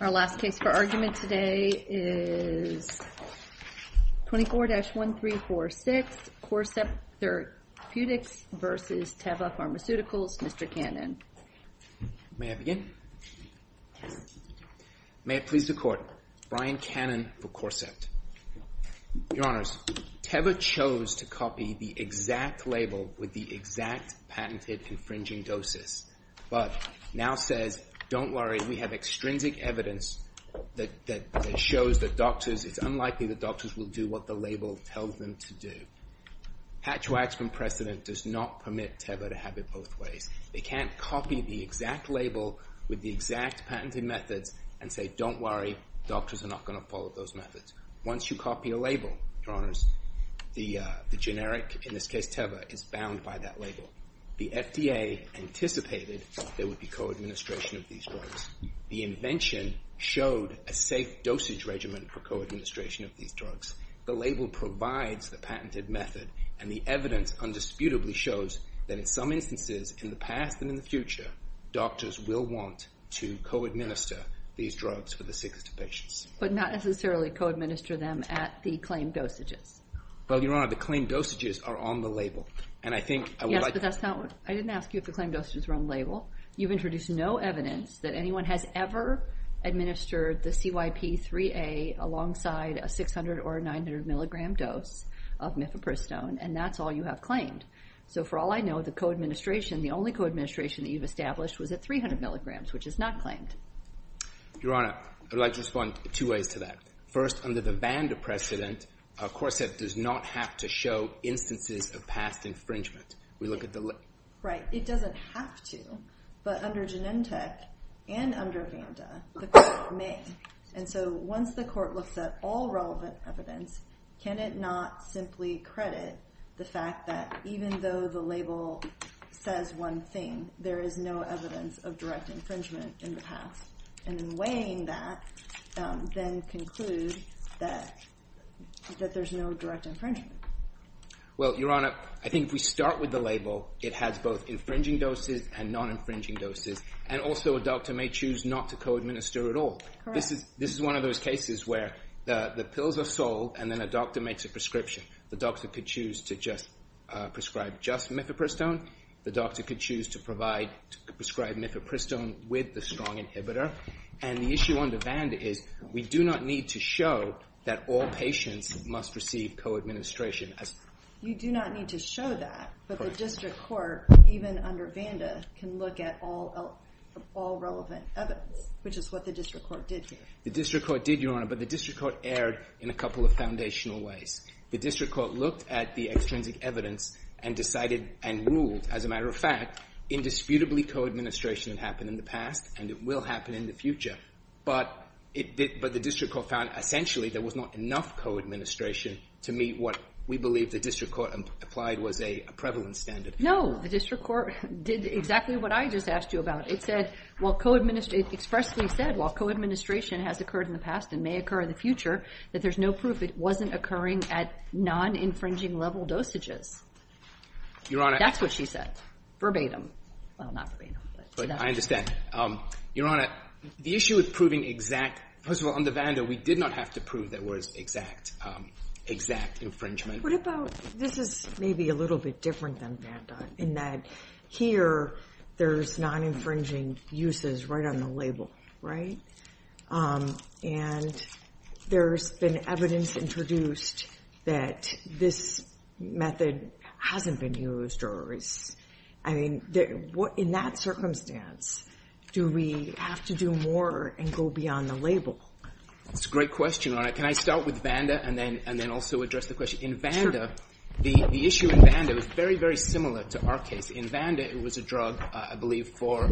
Our last case for argument today is 24-1346 CORCEPT Therapeutics v. Teva Pharmaceuticals, Mr. Cannon. May I begin? Yes. May it please the Court, Brian Cannon for CORCEPT. Your Honors, Teva chose to copy the exact label with the exact patented infringing doses, but now says, don't worry, we have extrinsic evidence that shows that doctors, it's unlikely that doctors will do what the label tells them to do. Hatchwacks from precedent does not permit Teva to have it both ways. They can't copy the exact label with the exact patented methods and say, don't worry, doctors are not going to follow those methods. Once you copy a label, Your Honors, the generic, in this case Teva, is bound by that label. The FDA anticipated there would be co-administration of these drugs. The invention showed a safe dosage regimen for co-administration of these drugs. The label provides the patented method, and the evidence undisputably shows that in some instances in the past and in the future, doctors will want to co-administer these drugs for the sickest of patients. But not necessarily co-administer them at the claimed dosages. Well, Your Honor, the claimed dosages are on the label. Yes, but I didn't ask you if the claimed dosages were on the label. You've introduced no evidence that anyone has ever administered the CYP3A alongside a 600 or a 900 milligram dose of mifepristone, and that's all you have claimed. So for all I know, the co-administration, the only co-administration that you've established was at 300 milligrams, which is not claimed. Your Honor, I'd like to respond two ways to that. First, under the VANDA precedent, of course it does not have to show instances of past infringement. We look at the label. Right. It doesn't have to. But under Genentech and under VANDA, the court may. And so once the court looks at all relevant evidence, can it not simply credit the fact that even though the label says one thing, there is no evidence of direct infringement in the past? And in weighing that, then conclude that there's no direct infringement. Well, Your Honor, I think if we start with the label, it has both infringing doses and non-infringing doses, and also a doctor may choose not to co-administer at all. This is one of those cases where the pills are sold and then a doctor makes a prescription. The doctor could choose to prescribe just mifepristone. The doctor could choose to prescribe mifepristone with the strong inhibitor. And the issue under VANDA is we do not need to show that all patients must receive co-administration. You do not need to show that, but the district court, even under VANDA, can look at all relevant evidence, which is what the district court did here. The district court did, Your Honor, but the district court erred in a couple of foundational ways. The district court looked at the extrinsic evidence and decided and ruled, as a matter of fact, indisputably co-administration happened in the past and it will happen in the future. But the district court found, essentially, there was not enough co-administration to meet what we believe the district court applied was a prevalence standard. No, the district court did exactly what I just asked you about. It said, well, co-administration, it expressly said, well, co-administration has occurred in the past and may occur in the future, that there's no proof it wasn't occurring at non-infringing level dosages. Your Honor. That's what she said, verbatim. Well, not verbatim. I understand. Your Honor, the issue with proving exact, first of all, under VANDA, we did not have to prove there was exact, exact infringement. What about, this is maybe a little bit different than VANDA, in that here, there's non-infringing uses right on the label, right, and there's been evidence introduced that this method hasn't been used or is, I mean, in that circumstance, do we have to do more and go beyond the label? That's a great question, Your Honor. Can I start with VANDA and then also address the question? Sure. In VANDA, the issue in VANDA was very, very similar to our case. In VANDA, it was a drug, I believe, for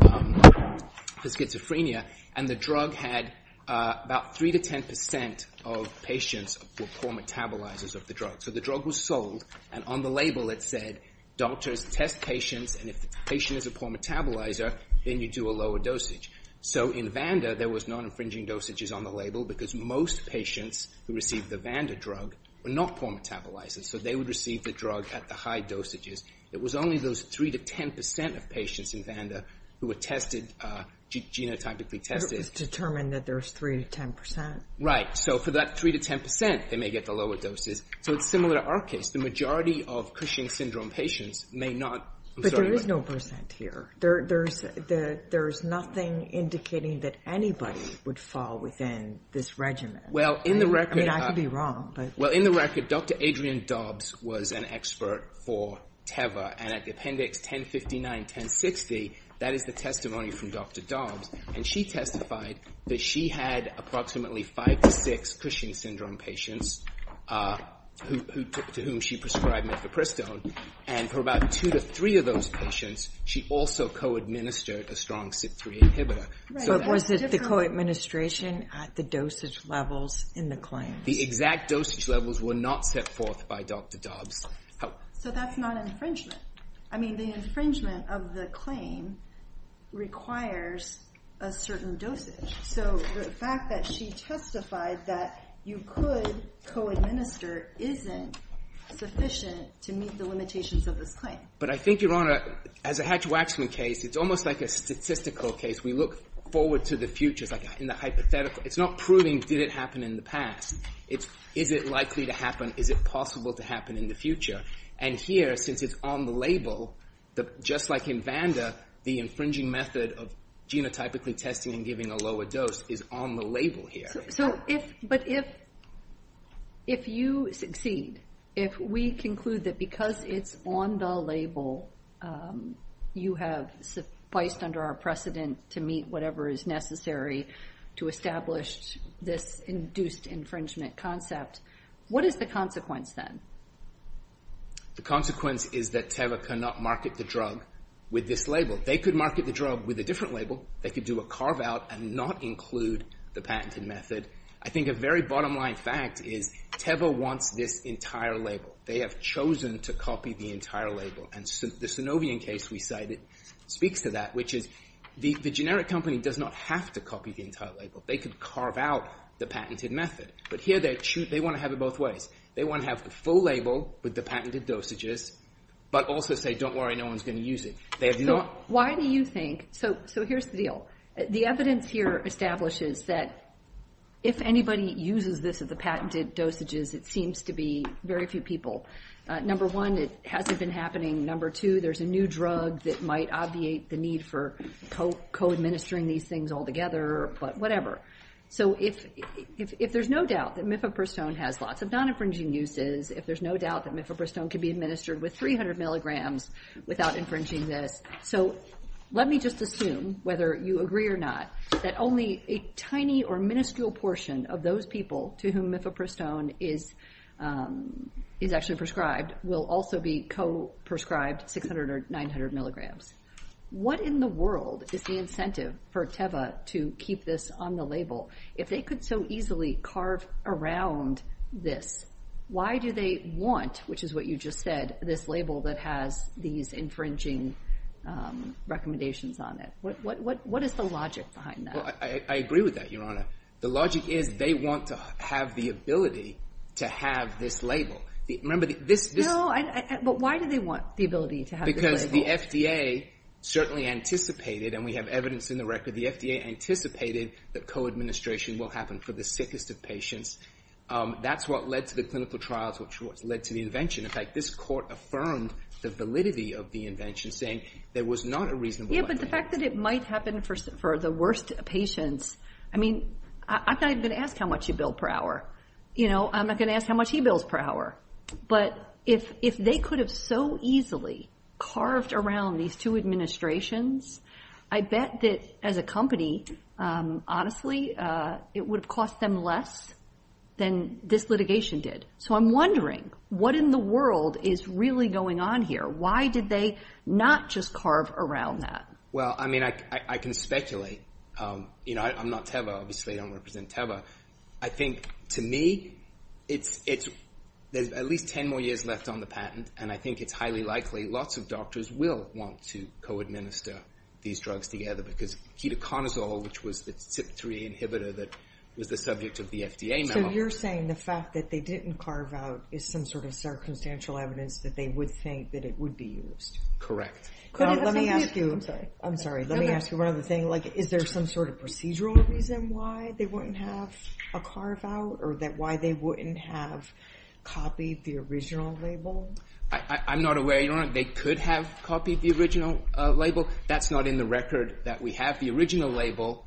schizophrenia, and the drug had about three to ten percent of patients were poor metabolizers of the drug. So the drug was sold, and on the label, it said, doctors test patients, and if the patient is a poor metabolizer, then you do a lower dosage. So in VANDA, there was non-infringing dosages on the label because most patients who received the VANDA drug were not poor metabolizers, so they would receive the drug at the high dosages. It was only those three to ten percent of patients in VANDA who were tested, genotypically tested. It was determined that there was three to ten percent. Right. So for that three to ten percent, they may get the lower doses. So it's similar to our case. The majority of Cushing syndrome patients may not. But there is no percent here. There's nothing indicating that anybody would fall within this regimen. Well in the record. I mean, I could be wrong, but. Well, in the record, Dr. Adrienne Dobbs was an expert for TEVA, and at the appendix 1059-1060, that is the testimony from Dr. Dobbs, and she testified that she had approximately five to six Cushing syndrome patients to whom she prescribed methopristone, and for about two to three of those patients, she also co-administered a strong CYP3 inhibitor. Right. But was it the co-administration at the dosage levels in the claims? The exact dosage levels were not set forth by Dr. Dobbs. So that's not infringement. I mean, the infringement of the claim requires a certain dosage. So the fact that she testified that you could co-administer isn't sufficient to meet the limitations of this claim. But I think, Your Honor, as a Hatch-Waxman case, it's almost like a statistical case. We look forward to the future, like in the hypothetical. It's not proving did it happen in the past. Is it likely to happen? Is it possible to happen in the future? And here, since it's on the label, just like in Vander, the infringing method of genotypically testing and giving a lower dose is on the label here. But if you succeed, if we conclude that because it's on the label, you have sufficed under our precedent to meet whatever is necessary to establish this induced infringement concept, what is the consequence then? The consequence is that Teva cannot market the drug with this label. They could market the drug with a different label. They could do a carve-out and not include the patented method. I think a very bottom-line fact is Teva wants this entire label. They have chosen to copy the entire label. And the Synovian case we cited speaks to that, which is the generic company does not have to copy the entire label. They could carve out the patented method. But here, they want to have it both ways. They want to have the full label with the patented dosages, but also say, don't worry, no one's going to use it. They have not— Why do you think—so here's the deal. The evidence here establishes that if anybody uses this as the patented dosages, it seems to be very few people. Number one, it hasn't been happening. Number two, there's a new drug that might obviate the need for co-administering these things all together, but whatever. So if there's no doubt that mifepristone has lots of non-infringing uses, if there's no doubt that mifepristone can be administered with 300 milligrams without infringing this, so let me just assume, whether you agree or not, that only a tiny or minuscule portion of those people to whom mifepristone is actually prescribed will also be co-prescribed 600 or 900 milligrams. What in the world is the incentive for Teva to keep this on the label? If they could so easily carve around this, why do they want, which is what you just said, this label that has these infringing recommendations on it? What is the logic behind that? Well, I agree with that, Your Honor. The logic is they want to have the ability to have this label. Remember, this- No, but why do they want the ability to have this label? Because the FDA certainly anticipated, and we have evidence in the record, the FDA anticipated that co-administration will happen for the sickest of patients. That's what led to the clinical trials, which is what's led to the invention. In fact, this court affirmed the validity of the invention, saying there was not a reasonable likelihood. Yeah, but the fact that it might happen for the worst patients, I mean, I'm not even going to ask how much you bill per hour. You know, I'm not going to ask how much he bills per hour, but if they could have so easily carved around these two administrations, I bet that as a company, honestly, it would have cost them less than this litigation did. So I'm wondering, what in the world is really going on here? Why did they not just carve around that? Well, I mean, I can speculate. You know, I'm not Teva. Obviously, I don't represent Teva. I think, to me, there's at least ten more years left on the patent, and I think it's highly likely lots of doctors will want to co-administer these drugs together, because ketoconazole, which was the CYP3 inhibitor that was the subject of the FDA memo- So you're saying the fact that they didn't carve out is some sort of circumstantial evidence that they would think that it would be used? Correct. Let me ask you- I'm sorry. Let me ask you one other thing. Like, is there some sort of procedural reason why they wouldn't have a carve-out, or why they wouldn't have copied the original label? I'm not aware. You know what, they could have copied the original label. That's not in the record that we have. The fact that the original label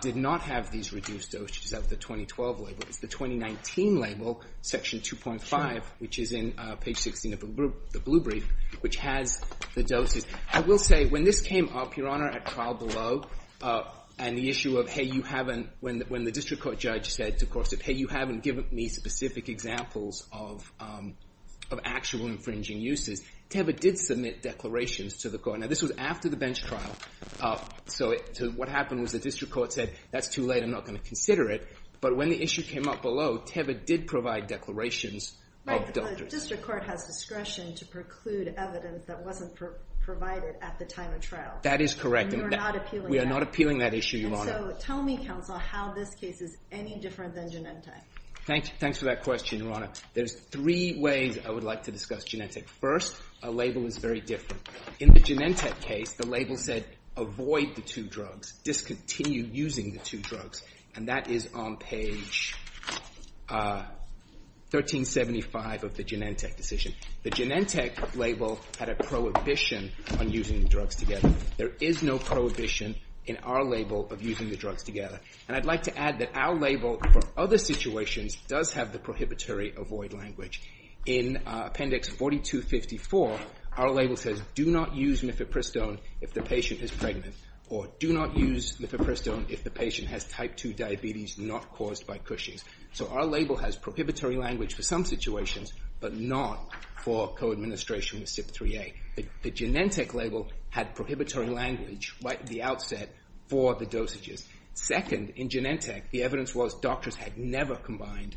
did not have these reduced doses out of the 2012 label. It's the 2019 label, section 2.5, which is in page 16 of the blue brief, which has the I will say, when this came up, Your Honor, at trial below, and the issue of, hey, you haven't- when the district court judge said, of course, hey, you haven't given me specific examples of actual infringing uses, Teva did submit declarations to the court. Now, this was after the bench trial, so what happened was the district court said, that's too late, I'm not going to consider it, but when the issue came up below, Teva did provide declarations of- Right, because the district court has discretion to preclude evidence that wasn't provided at the time of trial. That is correct. And we are not appealing that. We are not appealing that issue, Your Honor. And so, tell me, counsel, how this case is any different than Genentech. Thanks for that question, Your Honor. There's three ways I would like to discuss Genentech. First, a label is very different. In the Genentech case, the label said, avoid the two drugs, discontinue using the two drugs, and that is on page 1375 of the Genentech decision. The Genentech label had a prohibition on using the drugs together. There is no prohibition in our label of using the drugs together, and I'd like to add that our label for other situations does have the prohibitory avoid language. In appendix 4254, our label says, do not use mifepristone if the patient is pregnant, or do not use mifepristone if the patient has type 2 diabetes not caused by Cushing's. So our label has prohibitory language for some situations, but not for co-administration with CYP3A. The Genentech label had prohibitory language right at the outset for the dosages. Second, in Genentech, the evidence was doctors had never combined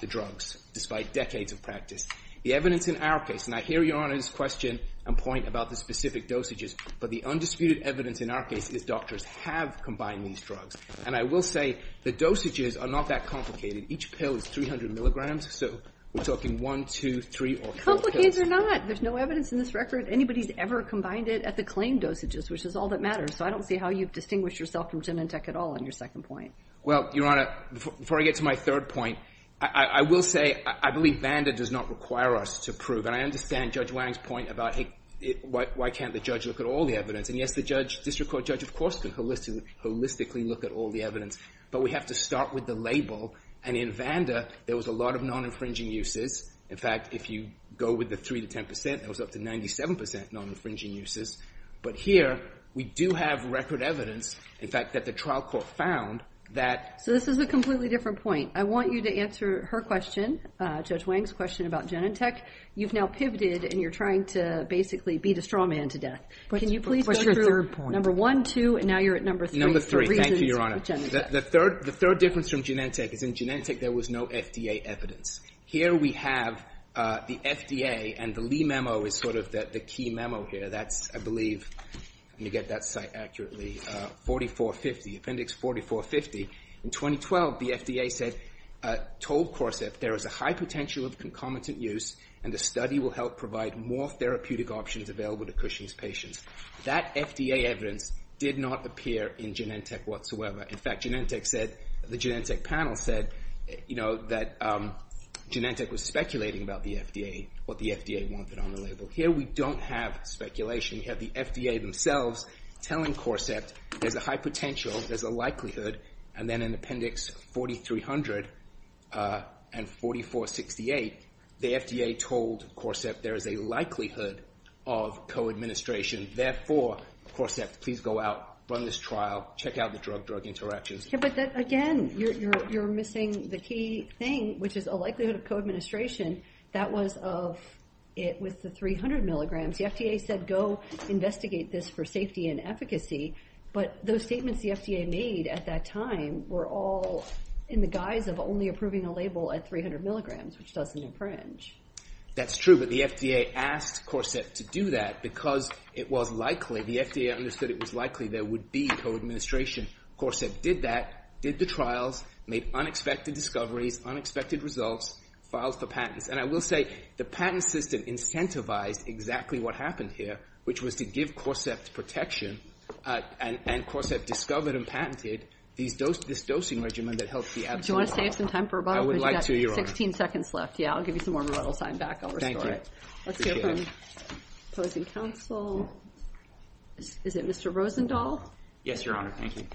the drugs, despite decades of practice. The evidence in our case, and I hear Your Honor's question and point about the specific dosages, but the undisputed evidence in our case is doctors have combined these drugs. And I will say, the dosages are not that complicated. Each pill is 300 milligrams, so we're talking one, two, three, or four pills. Complicated or not, there's no evidence in this record anybody's ever combined it at the claim dosages, which is all that matters, so I don't see how you distinguish yourself from Genentech at all on your second point. Well, Your Honor, before I get to my third point, I will say, I believe VANDA does not require us to prove, and I understand Judge Wang's point about, hey, why can't the judge look at all the evidence? And yes, the district court judge, of course, can holistically look at all the evidence, but we have to start with the label, and in VANDA, there was a lot of non-infringing uses. In fact, if you go with the 3 to 10%, there was up to 97% non-infringing uses. But here, we do have record evidence, in fact, that the trial court found that... So this is a completely different point. I want you to answer her question, Judge Wang's question about Genentech. You've now pivoted, and you're trying to basically beat a straw man to death. Can you please go through... What's your third point? Number one, two, and now you're at number three. Number three. The reasons for Genentech. Number three. The third difference from Genentech is in Genentech, there was no FDA evidence. Here we have the FDA, and the Lee memo is sort of the key memo here. That's, I believe, let me get that site accurately, 4450, appendix 4450. In 2012, the FDA said, told CORSEP, there is a high potential of concomitant use, and the study will help provide more therapeutic options available to Cushing's patients. That FDA evidence did not appear in Genentech whatsoever. In fact, Genentech said, the Genentech panel said, you know, that Genentech was speculating about the FDA, what the FDA wanted on the label. Here, we don't have speculation. We have the FDA themselves telling CORSEP, there's a high potential, there's a likelihood, and then in appendix 4300 and 4468, the FDA told CORSEP, there is a likelihood of co-administration. Therefore, CORSEP, please go out, run this trial, check out the drug-drug interactions. But again, you're missing the key thing, which is a likelihood of co-administration. That was of, it was the 300 milligrams. The FDA said, go investigate this for safety and efficacy. But those statements the FDA made at that time were all in the guise of only approving a label at 300 milligrams, which doesn't infringe. That's true. But the FDA asked CORSEP to do that because it was likely, the FDA understood it was likely there would be co-administration. CORSEP did that, did the trials, made unexpected discoveries, unexpected results, filed for patents. And I will say, the patent system incentivized exactly what happened here, which was to give CORSEP protection, and CORSEP discovered and patented this dosing regimen that helped the absolute most. Do you want to save some time for rebuttal? I would like to, Your Honor. Because you've got 16 seconds left. Yeah, I'll give you some more rebuttal time back. I'll restore it. Appreciate it. Let's hear from opposing counsel. Is it Mr. Rosendahl? Yes, Your Honor. Thank you.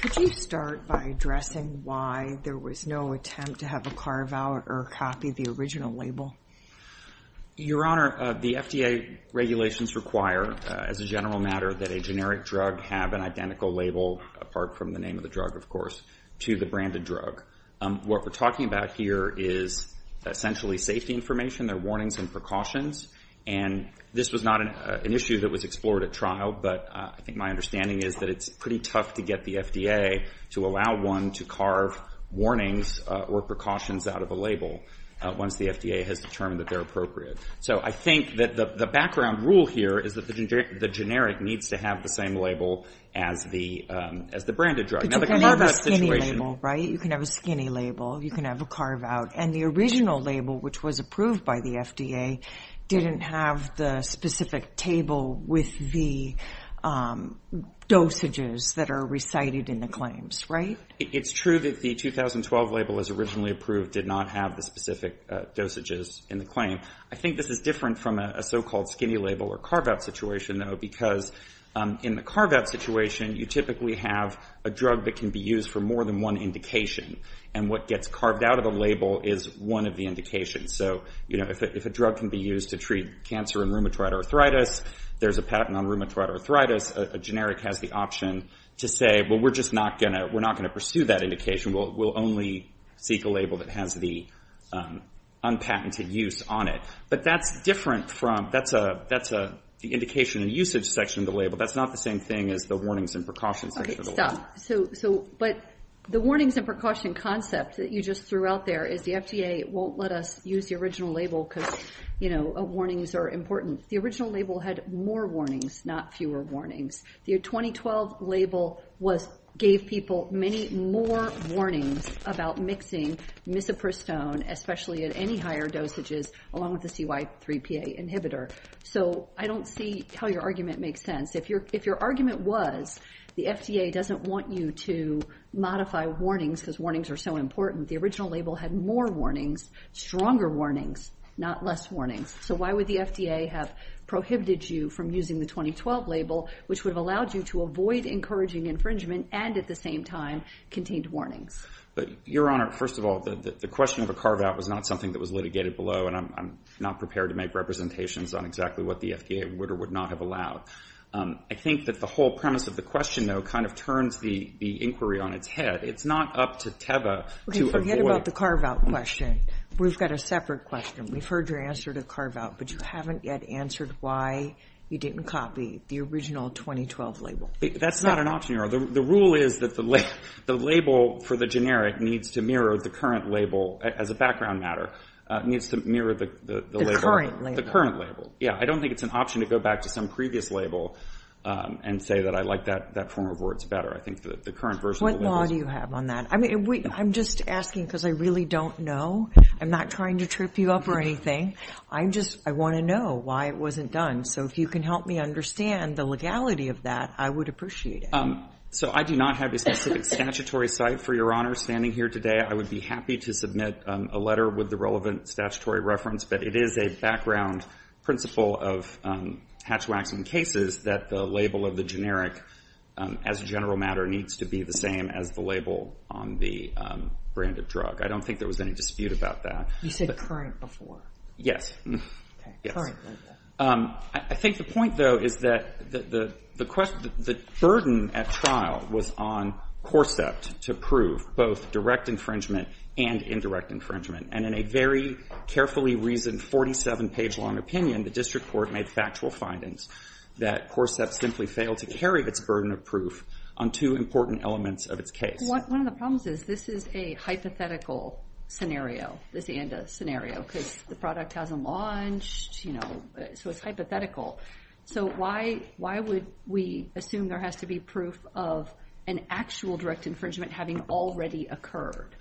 Could you start by addressing why there was no attempt to have a carve-out or copy the original label? Your Honor, the FDA regulations require, as a general matter, that a generic drug have an identical label, apart from the name of the drug, of course, to the branded drug. What we're talking about here is essentially safety information, their warnings and precautions. And this was not an issue that was explored at trial, but I think my understanding is that it's pretty tough to get the FDA to allow one to carve warnings or precautions out of a label once the FDA has determined that they're appropriate. So I think that the background rule here is that the generic needs to have the same label as the branded drug. But you can never see any label, right? You can have a skinny label. You can have a carve-out. And the original label, which was approved by the FDA, didn't have the specific table with the dosages that are recited in the claims, right? It's true that the 2012 label, as originally approved, did not have the specific dosages in the claim. I think this is different from a so-called skinny label or carve-out situation, though, because in the carve-out situation, you typically have a drug that can be used for more than one indication. And what gets carved out of the label is one of the indications. So if a drug can be used to treat cancer and rheumatoid arthritis, there's a patent on rheumatoid arthritis, a generic has the option to say, well, we're just not going to pursue that indication. We'll only seek a label that has the unpatented use on it. But that's different from the indication and usage section of the label. That's not the same thing as the warnings and precautions section of the label. Okay, stop. But the warnings and precaution concept that you just threw out there is the FDA won't let us use the original label because, you know, warnings are important. The original label had more warnings, not fewer warnings. The 2012 label gave people many more warnings about mixing misoprostone, especially at any higher dosages, along with the CY3PA inhibitor. So I don't see how your argument makes sense. If your argument was the FDA doesn't want you to modify warnings because warnings are so important, the original label had more warnings, stronger warnings, not less warnings. So why would the FDA have prohibited you from using the 2012 label, which would have allowed you to avoid encouraging infringement and at the same time contained warnings? But Your Honor, first of all, the question of a carve out was not something that was litigated below, and I'm not prepared to make representations on exactly what the FDA would or would not have allowed. I think that the whole premise of the question, though, kind of turns the inquiry on its head. It's not up to TEVA to avoid- Okay, forget about the carve out question. We've got a separate question. We've heard your answer to carve out, but you haven't yet answered why you didn't copy the original 2012 label. That's not an option, Your Honor. The rule is that the label for the generic needs to mirror the current label as a background matter, needs to mirror the label- The current label. The current label. Yeah. I don't think it's an option to go back to some previous label and say that I like that form of words better. I think that the current version of the label- What law do you have on that? I mean, I'm just asking because I really don't know. I'm not trying to trip you up or anything. I just, I want to know why it wasn't done. So if you can help me understand the legality of that, I would appreciate it. So I do not have a specific statutory site, for Your Honor, standing here today. I would be happy to submit a letter with the relevant statutory reference, but it is a background principle of hatch-waxing cases that the label of the generic, as a general matter, needs to be the same as the label on the brand of drug. I don't think there was any dispute about that. You said current before. Yes. Okay. Current. I think the point, though, is that the burden at trial was on CORSEPT to prove both direct infringement and indirect infringement. And in a very carefully reasoned, 47-page long opinion, the district court made factual findings that CORSEPT simply failed to carry its burden of proof on two important elements of its case. One of the problems is this is a hypothetical scenario, this ANDA scenario, because the product hasn't launched, you know, so it's hypothetical. So why would we assume there has to be proof of an actual direct infringement having already occurred?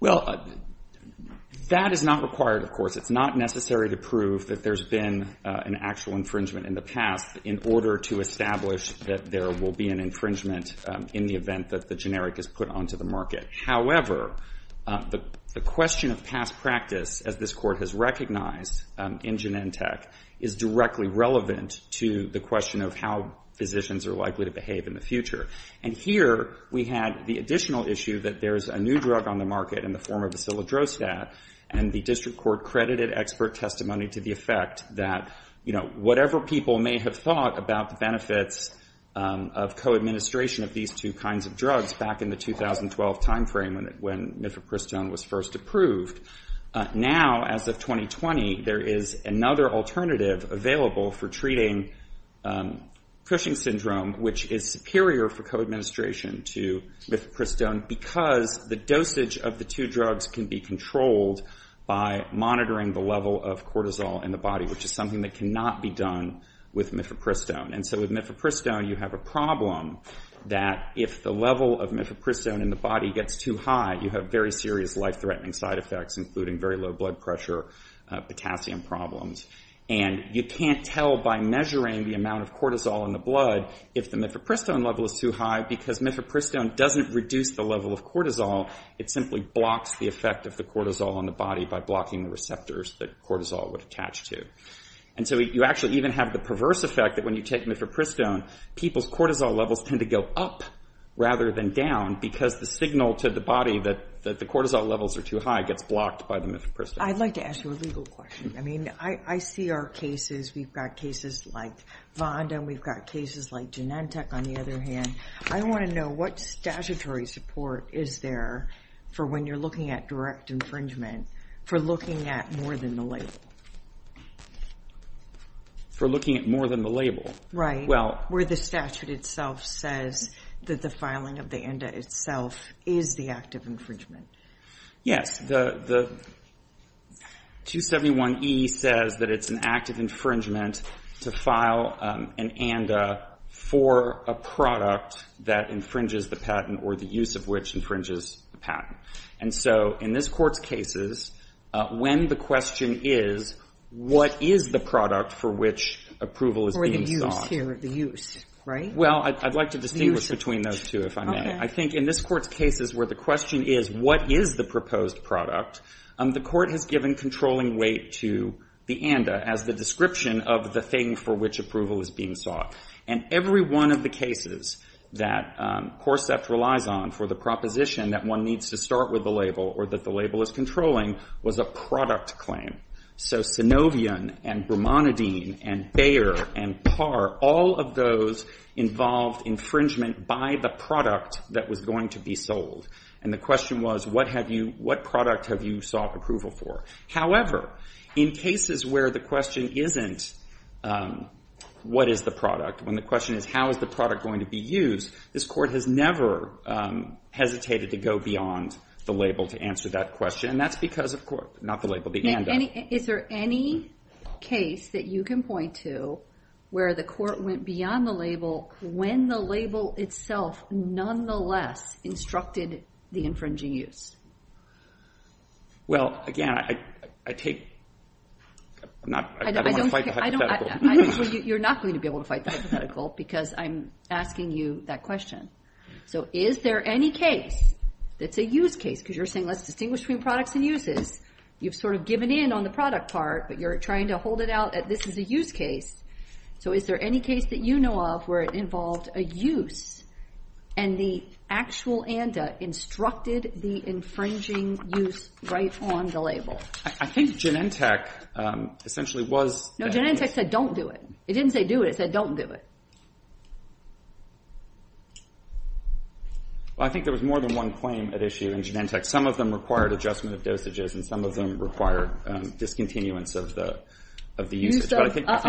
Well, that is not required, of course. It's not necessary to prove that there's been an actual infringement in the past in order to establish that there will be an infringement in the event that the generic is put onto the market. However, the question of past practice, as this Court has recognized in Genentech, is directly relevant to the question of how physicians are likely to behave in the future. And here we had the additional issue that there's a new drug on the market in the form of Acilidrosat, and the district court credited expert testimony to the effect that, you know, whatever people may have thought about the benefits of co-administration of these two kinds of drugs back in the 2012 timeframe when Mifepristone was first approved, now as of 2020, there is another alternative available for treating Cushing syndrome, which is superior for co-administration to Mifepristone because the dosage of the two drugs can be controlled by monitoring the level of cortisol in the body, which is something that cannot be done with Mifepristone. And so with Mifepristone, you have a problem that if the level of Mifepristone in the body gets too high, you have very serious life-threatening side effects, including very low blood pressure, potassium problems. And you can't tell by measuring the amount of cortisol in the blood if the Mifepristone level is too high because Mifepristone doesn't reduce the level of cortisol. It simply blocks the effect of the cortisol on the body by blocking the receptors that cortisol would attach to. And so you actually even have the perverse effect that when you take Mifepristone, people's cortisol levels tend to go up rather than down because the signal to the body that the cortisol levels are too high gets blocked by the Mifepristone. I'd like to ask you a legal question. I mean, I see our cases, we've got cases like Vonda, and we've got cases like Genentech on the other hand. I want to know what statutory support is there for when you're looking at direct infringement for looking at more than the label? For looking at more than the label? Right. Well... Where the statute itself says that the filing of the ANDA itself is the act of infringement. Yes. The 271e says that it's an act of infringement to file an ANDA for a product that infringes the patent or the use of which infringes the patent. And so in this Court's cases, when the question is, what is the product for which approval is being sought? Or the use here, the use, right? Well, I'd like to distinguish between those two, if I may. Okay. I think in this Court's cases where the question is, what is the proposed product? The Court has given controlling weight to the ANDA as the description of the thing for which approval is being sought. And every one of the cases that CORSEFT relies on for the proposition that one needs to start with the label or that the label is controlling was a product claim. So Synovion and Brumonidine and Bayer and Parr, all of those involved infringement by the product that was going to be sold. And the question was, what have you, what product have you sought approval for? However, in cases where the question isn't, what is the product? When the question is, how is the product going to be used? This Court has never hesitated to go beyond the label to answer that question. And that's because of, not the label, the ANDA. Is there any case that you can point to where the Court went beyond the label when the label itself nonetheless instructed the infringing use? Well, again, I take, I don't want to fight the hypothetical. You're not going to be able to fight the hypothetical because I'm asking you that question. So is there any case that's a use case, because you're saying let's distinguish between products and uses. You've sort of given in on the product part, but you're trying to hold it out that this is a use case. So is there any case that you know of where it involved a use, and the actual ANDA instructed the infringing use right on the label? I think Genentech essentially was... No, Genentech said don't do it. It didn't say do it, it said don't do it. I think there was more than one claim at issue in Genentech. Some of them required adjustment of dosages, and some of them required discontinuance of the usage. I'll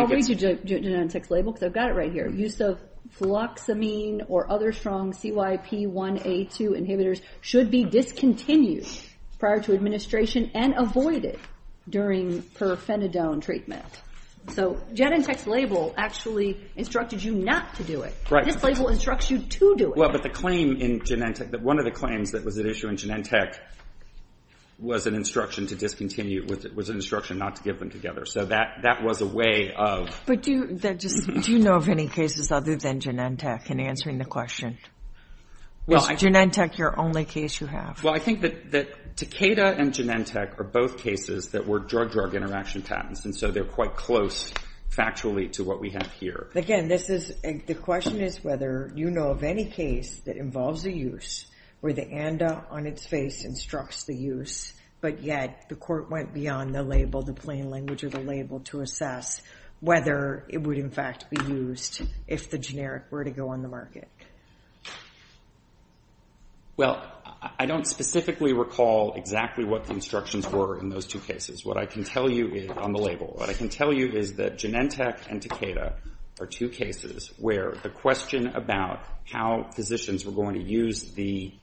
read you Genentech's label because I've got it right here. Use of fluoxamine or other strong CYP1A2 inhibitors should be discontinued prior to administration and avoided during perfenadone treatment. So Genentech's label actually instructed you not to do it. This label instructs you to do it. Well, but the claim in Genentech, one of the claims that was at issue in Genentech was an instruction to discontinue, was an instruction not to give them together. So that was a way of... But do you know of any cases other than Genentech in answering the question? Is Genentech your only case you have? Well, I think that Takeda and Genentech are both cases that were drug-drug interaction patents, and so they're quite close factually to what we have here. Again, the question is whether you know of any case that involves a use where the ANDA on its face instructs the use, but yet the court went beyond the label, the plain language of the label, to assess whether it would in fact be used if the generic were to go on the market. Well, I don't specifically recall exactly what the instructions were in those two cases. What I can tell you is... On the label. What I can tell you is that Genentech and Takeda are two cases where the question about how physicians were going to use the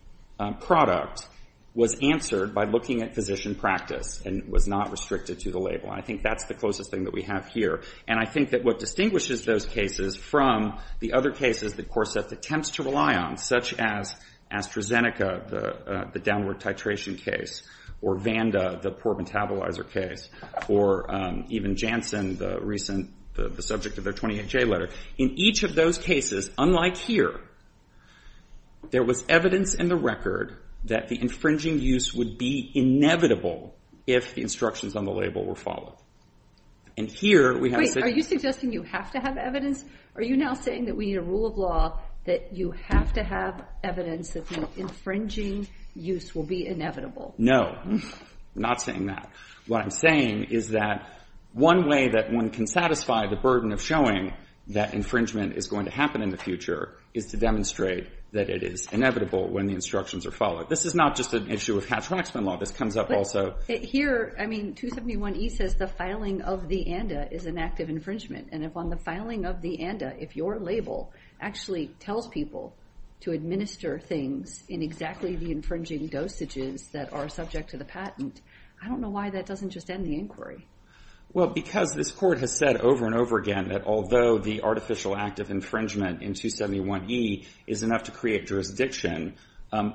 product was answered by looking at physician practice and was not restricted to the label. And I think that's the closest thing that we have here. And I think that what distinguishes those cases from the other cases that Corseth attempts to rely on, such as AstraZeneca, the downward titration case, or Vanda, the poor metabolizer case, or even Janssen, the recent, the subject of their 28J letter, in each of those cases, unlike here, there was evidence in the record that the infringing use would be inevitable if the instructions on the label were followed. And here we have... Are you suggesting you have to have evidence? Are you now saying that we need a rule of law that you have to have evidence that the infringing use will be inevitable? No. I'm not saying that. What I'm saying is that one way that one can satisfy the burden of showing that infringement is going to happen in the future is to demonstrate that it is inevitable when the instructions are followed. This is not just an issue of Hatch-Waxman Law. This comes up also... But here, I mean, 271E says the filing of the ANDA is an act of infringement. And if on the filing of the ANDA, if your label actually tells people to administer things in exactly the infringing dosages that are subject to the patent, I don't know why that doesn't just end the inquiry. Well, because this court has said over and over again that although the artificial act of infringement in 271E is enough to create jurisdiction,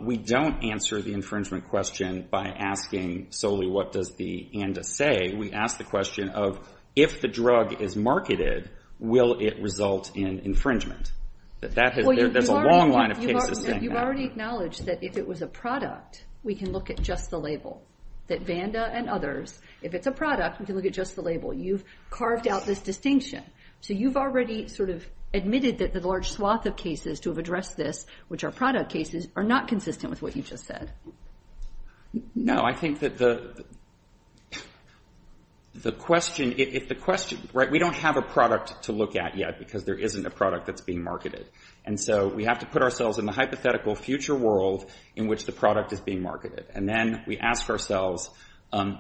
we don't answer the infringement question by asking solely what does the ANDA say. We ask the question of if the drug is marketed, will it result in infringement? That has... There's a long line of cases saying that. You've already acknowledged that if it was a product, we can look at just the label. That Vanda and others, if it's a product, we can look at just the label. You've carved out this distinction. So you've already sort of admitted that the large swath of cases to have addressed this, which are product cases, are not consistent with what you just said. I think that the question... We don't have a product to look at yet because there isn't a product that's being marketed. And so we have to put ourselves in the hypothetical future world in which the product is being marketed. And then we ask ourselves, in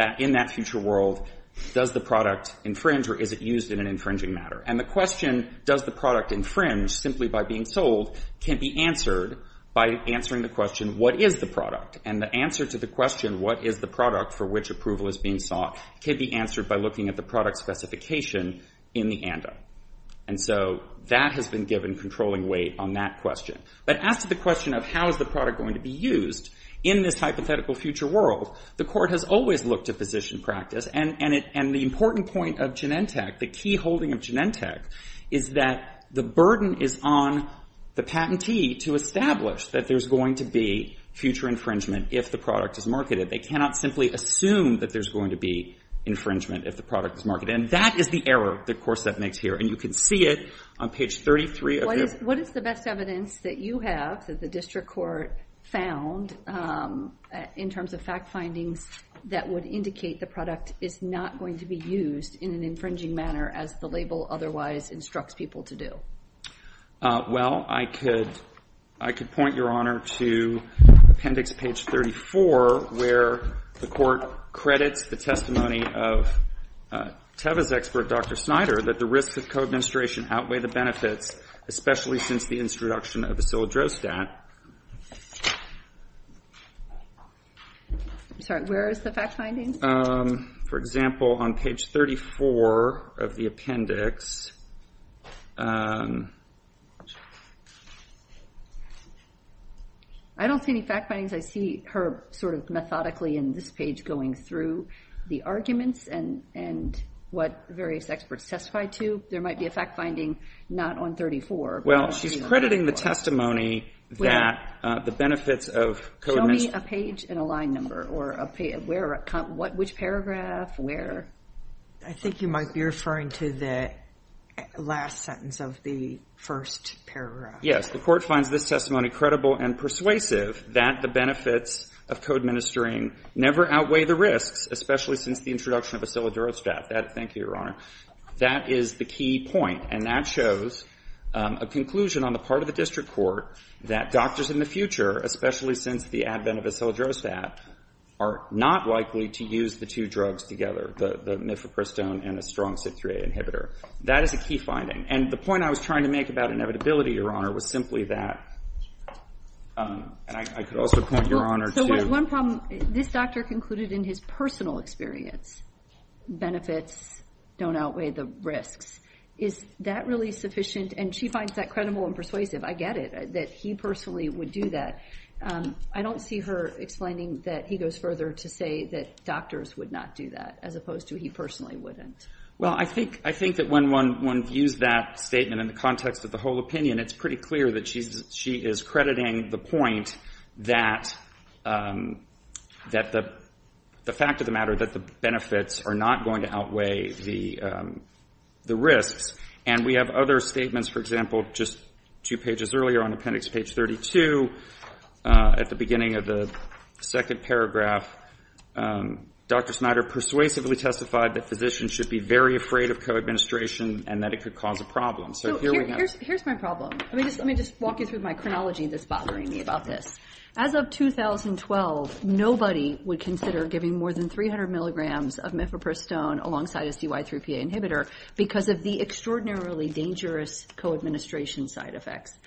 that future world, does the product infringe or is it going to be used in an infringing matter? And the question, does the product infringe simply by being sold, can be answered by answering the question, what is the product? And the answer to the question, what is the product for which approval is being sought, can be answered by looking at the product specification in the ANDA. And so that has been given controlling weight on that question. But as to the question of how is the product going to be used in this hypothetical future world, the Court has always looked at physician practice. And the important point of Genentech, the key holding of Genentech, is that the burden is on the patentee to establish that there's going to be future infringement if the product is marketed. They cannot simply assume that there's going to be infringement if the product is marketed. And that is the error that Corset makes here. And you can see it on page 33 of your... What is the best evidence that you have, that the District Court found, in terms of fact findings, that would indicate the product is not going to be used in an infringing manner as the label otherwise instructs people to do? Well, I could point, Your Honor, to appendix page 34, where the Court credits the testimony of Teva's expert, Dr. Snyder, that the risks of co-administration outweigh the benefits, especially since the introduction of Acilidrostat. I'm sorry, where is the fact finding? For example, on page 34 of the appendix... I don't see any fact findings. I see her sort of methodically, in this page, going through the arguments and what various experts testified to. There might be a fact finding not on 34, but I don't see it on 34. Well, she's crediting the testimony that the benefits of co-administration... Show me a page and a line number, or a page, where, which paragraph, where. I think you might be referring to the last sentence of the first paragraph. Yes. The Court finds this testimony credible and persuasive that the benefits of co-administering never outweigh the risks, especially since the introduction of Acilidrostat. Thank you, Your Honor. That is the key point, and that shows a conclusion on the part of the district court that doctors in the future, especially since the advent of Acilidrostat, are not likely to use the two drugs together, the Mifepristone and a strong CYP3A inhibitor. That is a key finding. And the point I was trying to make about inevitability, Your Honor, was simply that, and I could also point Your Honor to... So, one problem, this doctor concluded in his personal experience, benefits don't outweigh the risks. Is that really sufficient? And she finds that credible and persuasive. I get it, that he personally would do that. I don't see her explaining that he goes further to say that doctors would not do that, as opposed to he personally wouldn't. Well, I think, I think that when one, one views that statement in the context of the whole opinion, it's pretty clear that she's, she is crediting the point that, that the, the fact of the matter, that the benefits are not going to outweigh the, the risks. And we have other statements, for example, just two pages earlier on appendix page 32, at the beginning of the second paragraph, Dr. Snyder persuasively testified that physicians should be very afraid of co-administration and that it could cause a problem. So, here we have... So, here's, here's my problem. Let me just, let me just walk you through my chronology that's bothering me about this. As of 2012, nobody would consider giving more than 300 milligrams of mifepristone alongside a CY3PA inhibitor because of the extraordinarily dangerous co-administration side effects.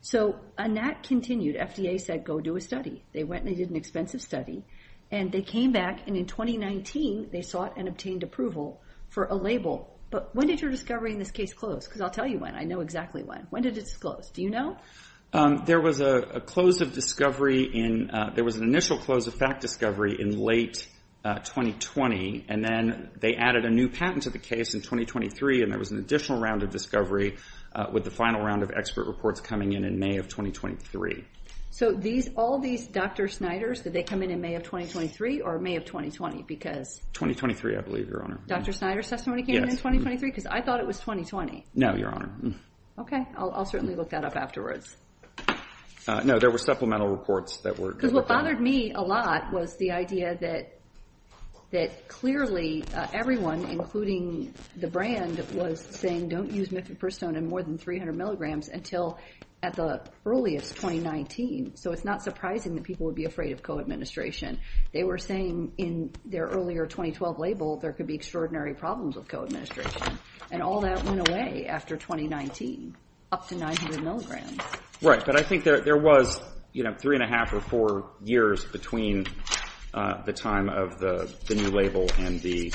So, and that continued, FDA said, go do a study. They went and they did an expensive study. And they came back, and in 2019, they sought and obtained approval for a label. But when did your discovery in this case close? Because I'll tell you when, I know exactly when. When did it disclose? Do you know? There was a close of discovery in, there was an initial close of fact discovery in late 2020, and then they added a new patent to the case in 2023, and there was an additional round of discovery with the final round of expert reports coming in, in May of 2023. So, these, all these Dr. Snyder's, did they come in in May of 2023 or May of 2020? Because... 2023, I believe, Your Honor. Dr. Snyder's testimony came in in 2023? Because I thought it was 2020. No, Your Honor. Okay, I'll certainly look that up afterwards. No, there were supplemental reports that were... Because what bothered me a lot was the idea that, that clearly everyone, including the brand, was saying, don't use mifepristone in more than 300 milligrams until at the earliest 2019. So, it's not surprising that people would be afraid of co-administration. They were saying in their earlier 2012 label, there could be extraordinary problems with co-administration. And all that went away after 2019, up to 900 milligrams. Right, but I think there, there was, you know, three and a half or four years between the time of the, the new label and the,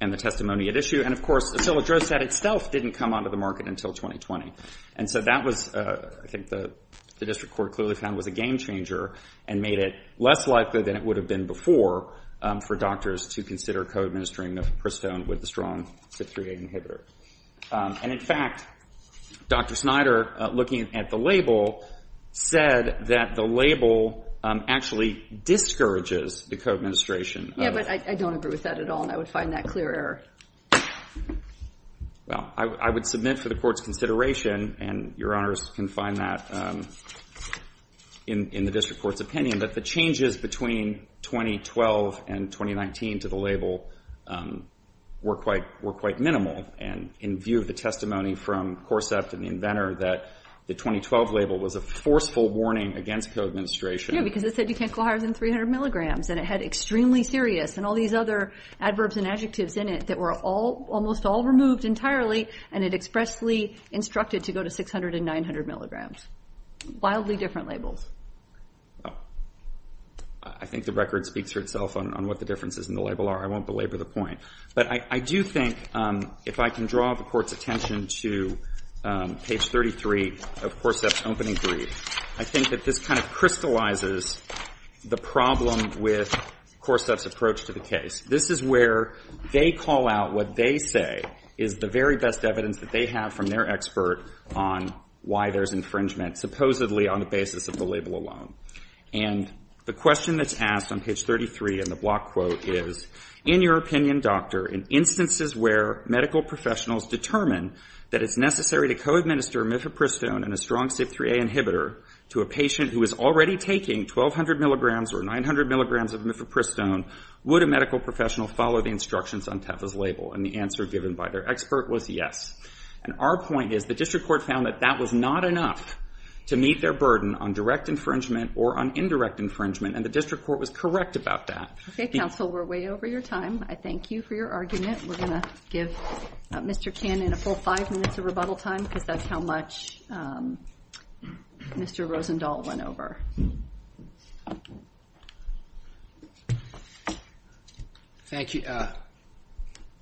and the testimony at issue. And of course, ocilodroset itself didn't come onto the market until 2020. And so, that was, I think the, the district court clearly found was a game changer and made it less likely than it would have been before for doctors to consider co-administering mifepristone with a strong 538 inhibitor. And in fact, Dr. Snyder, looking at the label, said that the label actually discourages the co-administration of... Yeah, but I, I don't agree with that at all, and I would find that clear error. Well, I, I would submit for the court's consideration, and your honors can find that in, in the district court's opinion, that the changes between 2012 and 2019 to the label were quite, were quite minimal. And in view of the testimony from CORSEPT and the inventor that the 2012 label was a forceful warning against co-administration. Yeah, because it said you can't go higher than 300 milligrams. And it had extremely serious, and all these other adverbs and adjectives in it that were all, almost all removed entirely. And it expressly instructed to go to 600 and 900 milligrams. Wildly different labels. Well, I, I think the record speaks for itself on, on what the differences in the label are. I won't belabor the point. But I, I do think if I can draw the court's attention to page 33 of CORSEPT's opening brief, I think that this kind of crystallizes the problem with CORSEPT's approach to the case. This is where they call out what they say is the very best evidence that they have from their expert on why there's infringement, supposedly on the basis of the label alone. And the question that's asked on page 33 in the block quote is, in your opinion, doctor, in instances where medical professionals determine that it's necessary to co-administer mifepristone and a strong CYP3A inhibitor to a patient who is already taking 1,200 milligrams or 900 milligrams of mifepristone, would a medical professional follow the instructions on TEFA's label? And the answer given by their expert was yes. And our point is the district court found that that was not enough to meet their burden on direct infringement or on indirect infringement. And the district court was correct about that. Okay, counsel, we're way over your time. I thank you for your argument. We're going to give Mr. Chan in a full five minutes of rebuttal time because that's how much Mr. Rosendahl went over. Thank you.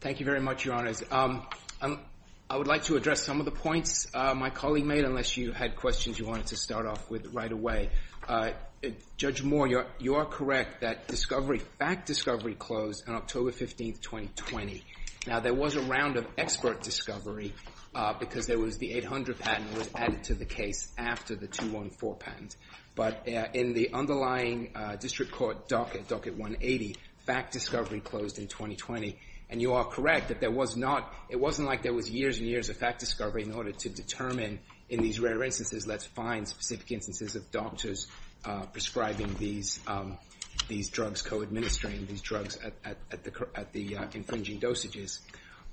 Thank you very much, Your Honors. I would like to address some of the points my colleague made, unless you had questions you wanted to start off with right away. Judge Moore, you are correct that discovery, fact discovery closed on October 15th, 2020. Now there was a round of expert discovery because there was the 800 patent was added to the case after the 214 patent. But in the underlying district court docket, docket 180, fact discovery closed in 2020. And you are correct that there was not, it wasn't like there was years and years of fact discovery in order to determine in these rare instances, let's find specific instances of doctors prescribing these drugs, co-administering these drugs at the infringing dosages.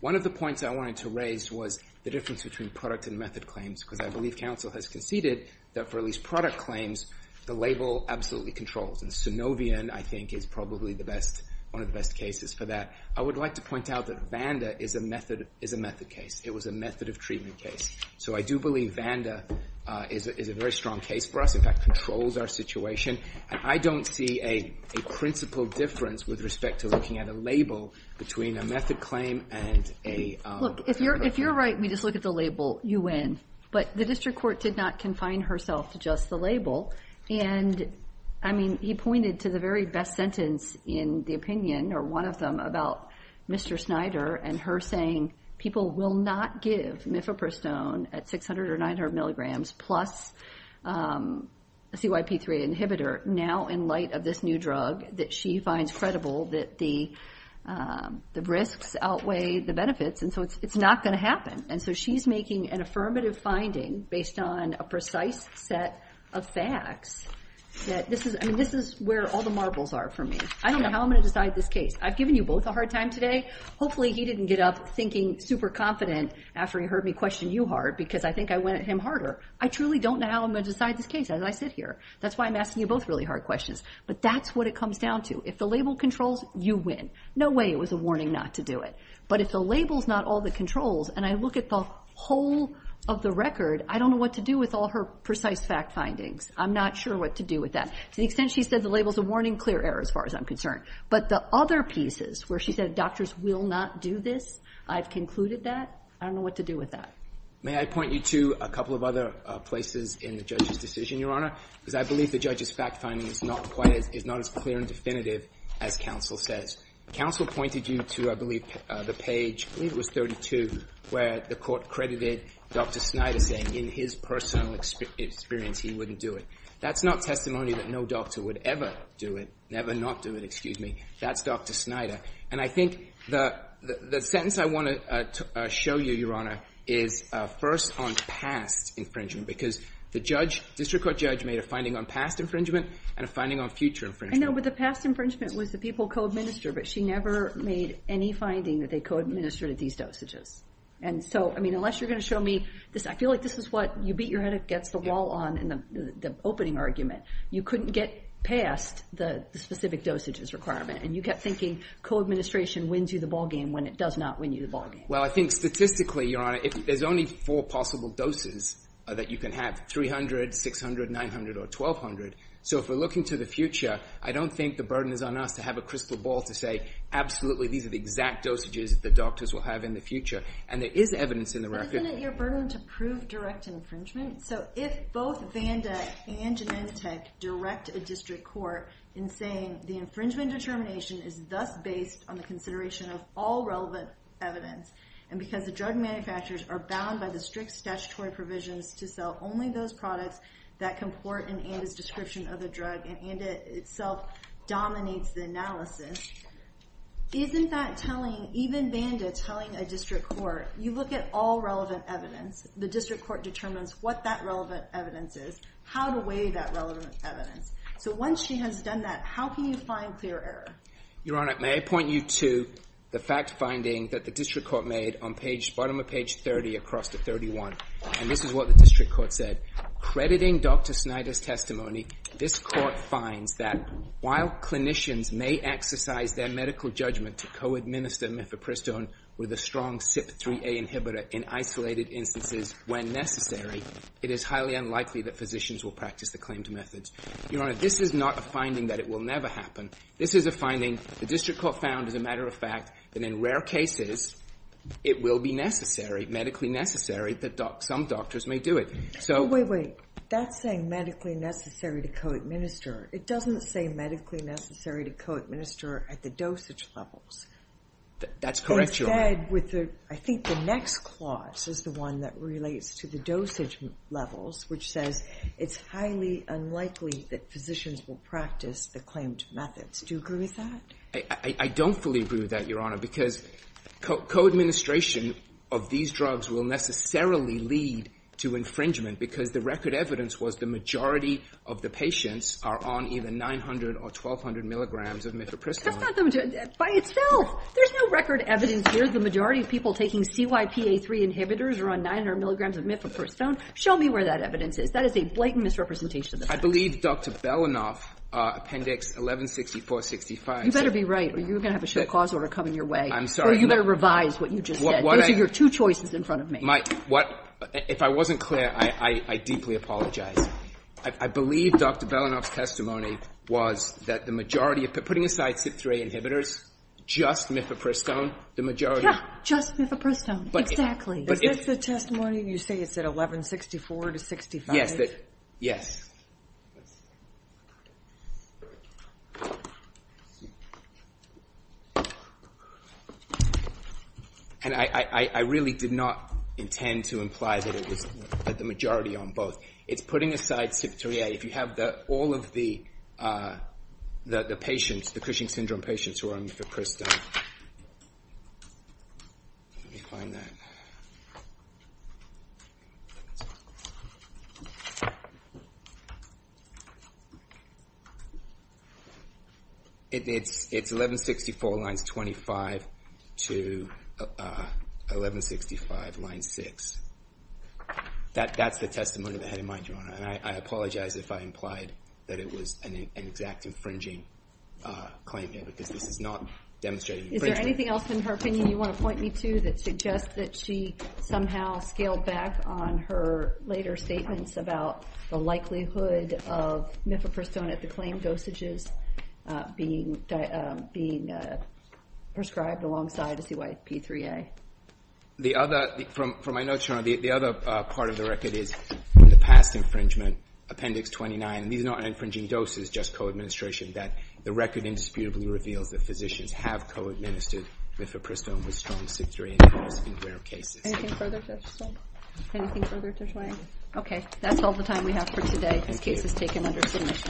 One of the points I wanted to raise was the difference between product and method claims because I believe counsel has conceded that for at least product claims, the label absolutely controls and synovium I think is probably the best, one of the best cases for that. I would like to point out that Vanda is a method case. It was a method of treatment case. So I do believe Vanda is a very strong case for us, in fact controls our situation. I don't see a principle difference with respect to looking at a label between a method claim and a... Look, if you're right, we just look at the label, you win. But the district court did not confine herself to just the label. And I mean, he pointed to the very best sentence in the opinion or one of them about Mr. Snyder and her saying people will not give mifepristone at 600 or 900 milligrams plus a CYP3 inhibitor now in light of this new drug that she finds credible that the risks outweigh the benefits. And so it's not going to happen. And so she's making an affirmative finding based on a precise set of facts that this is... I mean, this is where all the marbles are for me. I don't know how I'm going to decide this case. I've given you both a hard time today. Hopefully, he didn't get up thinking super confident after he heard me question you hard because I think I went at him harder. I truly don't know how I'm going to decide this case as I sit here. That's why I'm asking you both really hard questions. But that's what it comes down to. If the label controls, you win. No way it was a warning not to do it. But if the label's not all the controls and I look at the whole of the record, I don't know what to do with all her precise fact findings. I'm not sure what to do with that. To the extent she said the label's a warning, clear error as far as I'm concerned. But the other pieces where she said doctors will not do this, I've concluded that. I don't know what to do with that. May I point you to a couple of other places in the judge's decision, Your Honor, because I believe the judge's fact finding is not as clear and definitive as counsel says. Counsel pointed you to, I believe, the page, I believe it was 32, where the court credited Dr. Snyder saying in his personal experience he wouldn't do it. That's not testimony that no doctor would ever do it, never not do it, excuse me. That's Dr. Snyder. And I think the sentence I want to show you, Your Honor, is first on past infringement. Because the judge, district court judge, made a finding on past infringement and a finding on future infringement. I know, but the past infringement was the people co-administered, but she never made any finding that they co-administered these dosages. And so, I mean, unless you're going to show me this, I feel like this is what you beat your head against the wall on in the opening argument. You couldn't get past the specific dosages requirement. And you kept thinking co-administration wins you the ball game when it does not win you the ball game. Well, I think statistically, Your Honor, there's only four possible doses that you can have, 300, 600, 900, or 1,200. So if we're looking to the future, I don't think the burden is on us to have a crystal ball to say, absolutely, these are the exact dosages that the doctors will have in the And there is evidence in the record. But isn't it your burden to prove direct infringement? So if both Vanda and Genentech direct a district court in saying the infringement determination is thus based on the consideration of all relevant evidence, and because the drug manufacturers are bound by the strict statutory provisions to sell only those products that comport in ANDA's description of the drug, and ANDA itself dominates the analysis, isn't that telling, Even Vanda telling a district court, you look at all relevant evidence. The district court determines what that relevant evidence is, how to weigh that relevant evidence. So once she has done that, how can you find clear error? Your Honor, may I point you to the fact finding that the district court made on bottom of page 30 across to 31. And this is what the district court said. Crediting Dr. Snyder's testimony, this court finds that while clinicians may exercise their medical judgment to co-administer mifepristone with a strong CYP3A inhibitor in isolated instances when necessary, it is highly unlikely that physicians will practice the claimed methods. Your Honor, this is not a finding that it will never happen. This is a finding the district court found as a matter of fact that in rare cases, it will be necessary, medically necessary, that some doctors may do it. Wait, wait. That's saying medically necessary to co-administer. It doesn't say medically necessary to co-administer at the dosage levels. That's correct, Your Honor. Instead, with the, I think the next clause is the one that relates to the dosage levels, which says it's highly unlikely that physicians will practice the claimed methods. Do you agree with that? I don't fully agree with that, Your Honor, because co-administration of these drugs will necessarily lead to infringement because the record evidence was the majority of the patients are on either 900 or 1,200 milligrams of mifepristone. That's not the, by itself, there's no record evidence here. The majority of people taking CYP3A inhibitors are on 900 milligrams of mifepristone. Show me where that evidence is. That is a blatant misrepresentation of the facts. I believe Dr. Belanoff, Appendix 1164-65. You better be right or you're going to have a short cause order coming your way. I'm sorry. Or you better revise what you just said. Those are your two choices in front of me. If I wasn't clear, I deeply apologize. I believe Dr. Belanoff's testimony was that the majority of, putting aside CYP3A inhibitors, just mifepristone, the majority. Just mifepristone. Exactly. Is this the testimony you say it's at 1164-65? Yes. Yes. And I really did not intend to imply that it was the majority on both. It's putting aside CYP3A. If you have all of the patients, the Cushing syndrome patients, who are on mifepristone. Let me find that. It's 1164 lines 25 to 1165 line 6. That's the testimony that I had in mind, Your Honor. And I apologize if I implied that it was an exact infringing claim here. Because this is not demonstrating infringement. Is there anything else in her opinion you want to point me to that suggests that she somehow scaled back on her later statements about the likelihood of mifepristone at the claim dosages being prescribed alongside CYP3A? The other, from my notes, Your Honor, the other part of the record is in the past infringement, Appendix 29, these are not infringing doses, just co-administration, that the record indisputably reveals that physicians have co-administered mifepristone with strong CYP3A in rare cases. Anything further to add, Your Honor? Anything further to explain? Okay. That's all the time we have for today. Thank you. This case is taken under submission.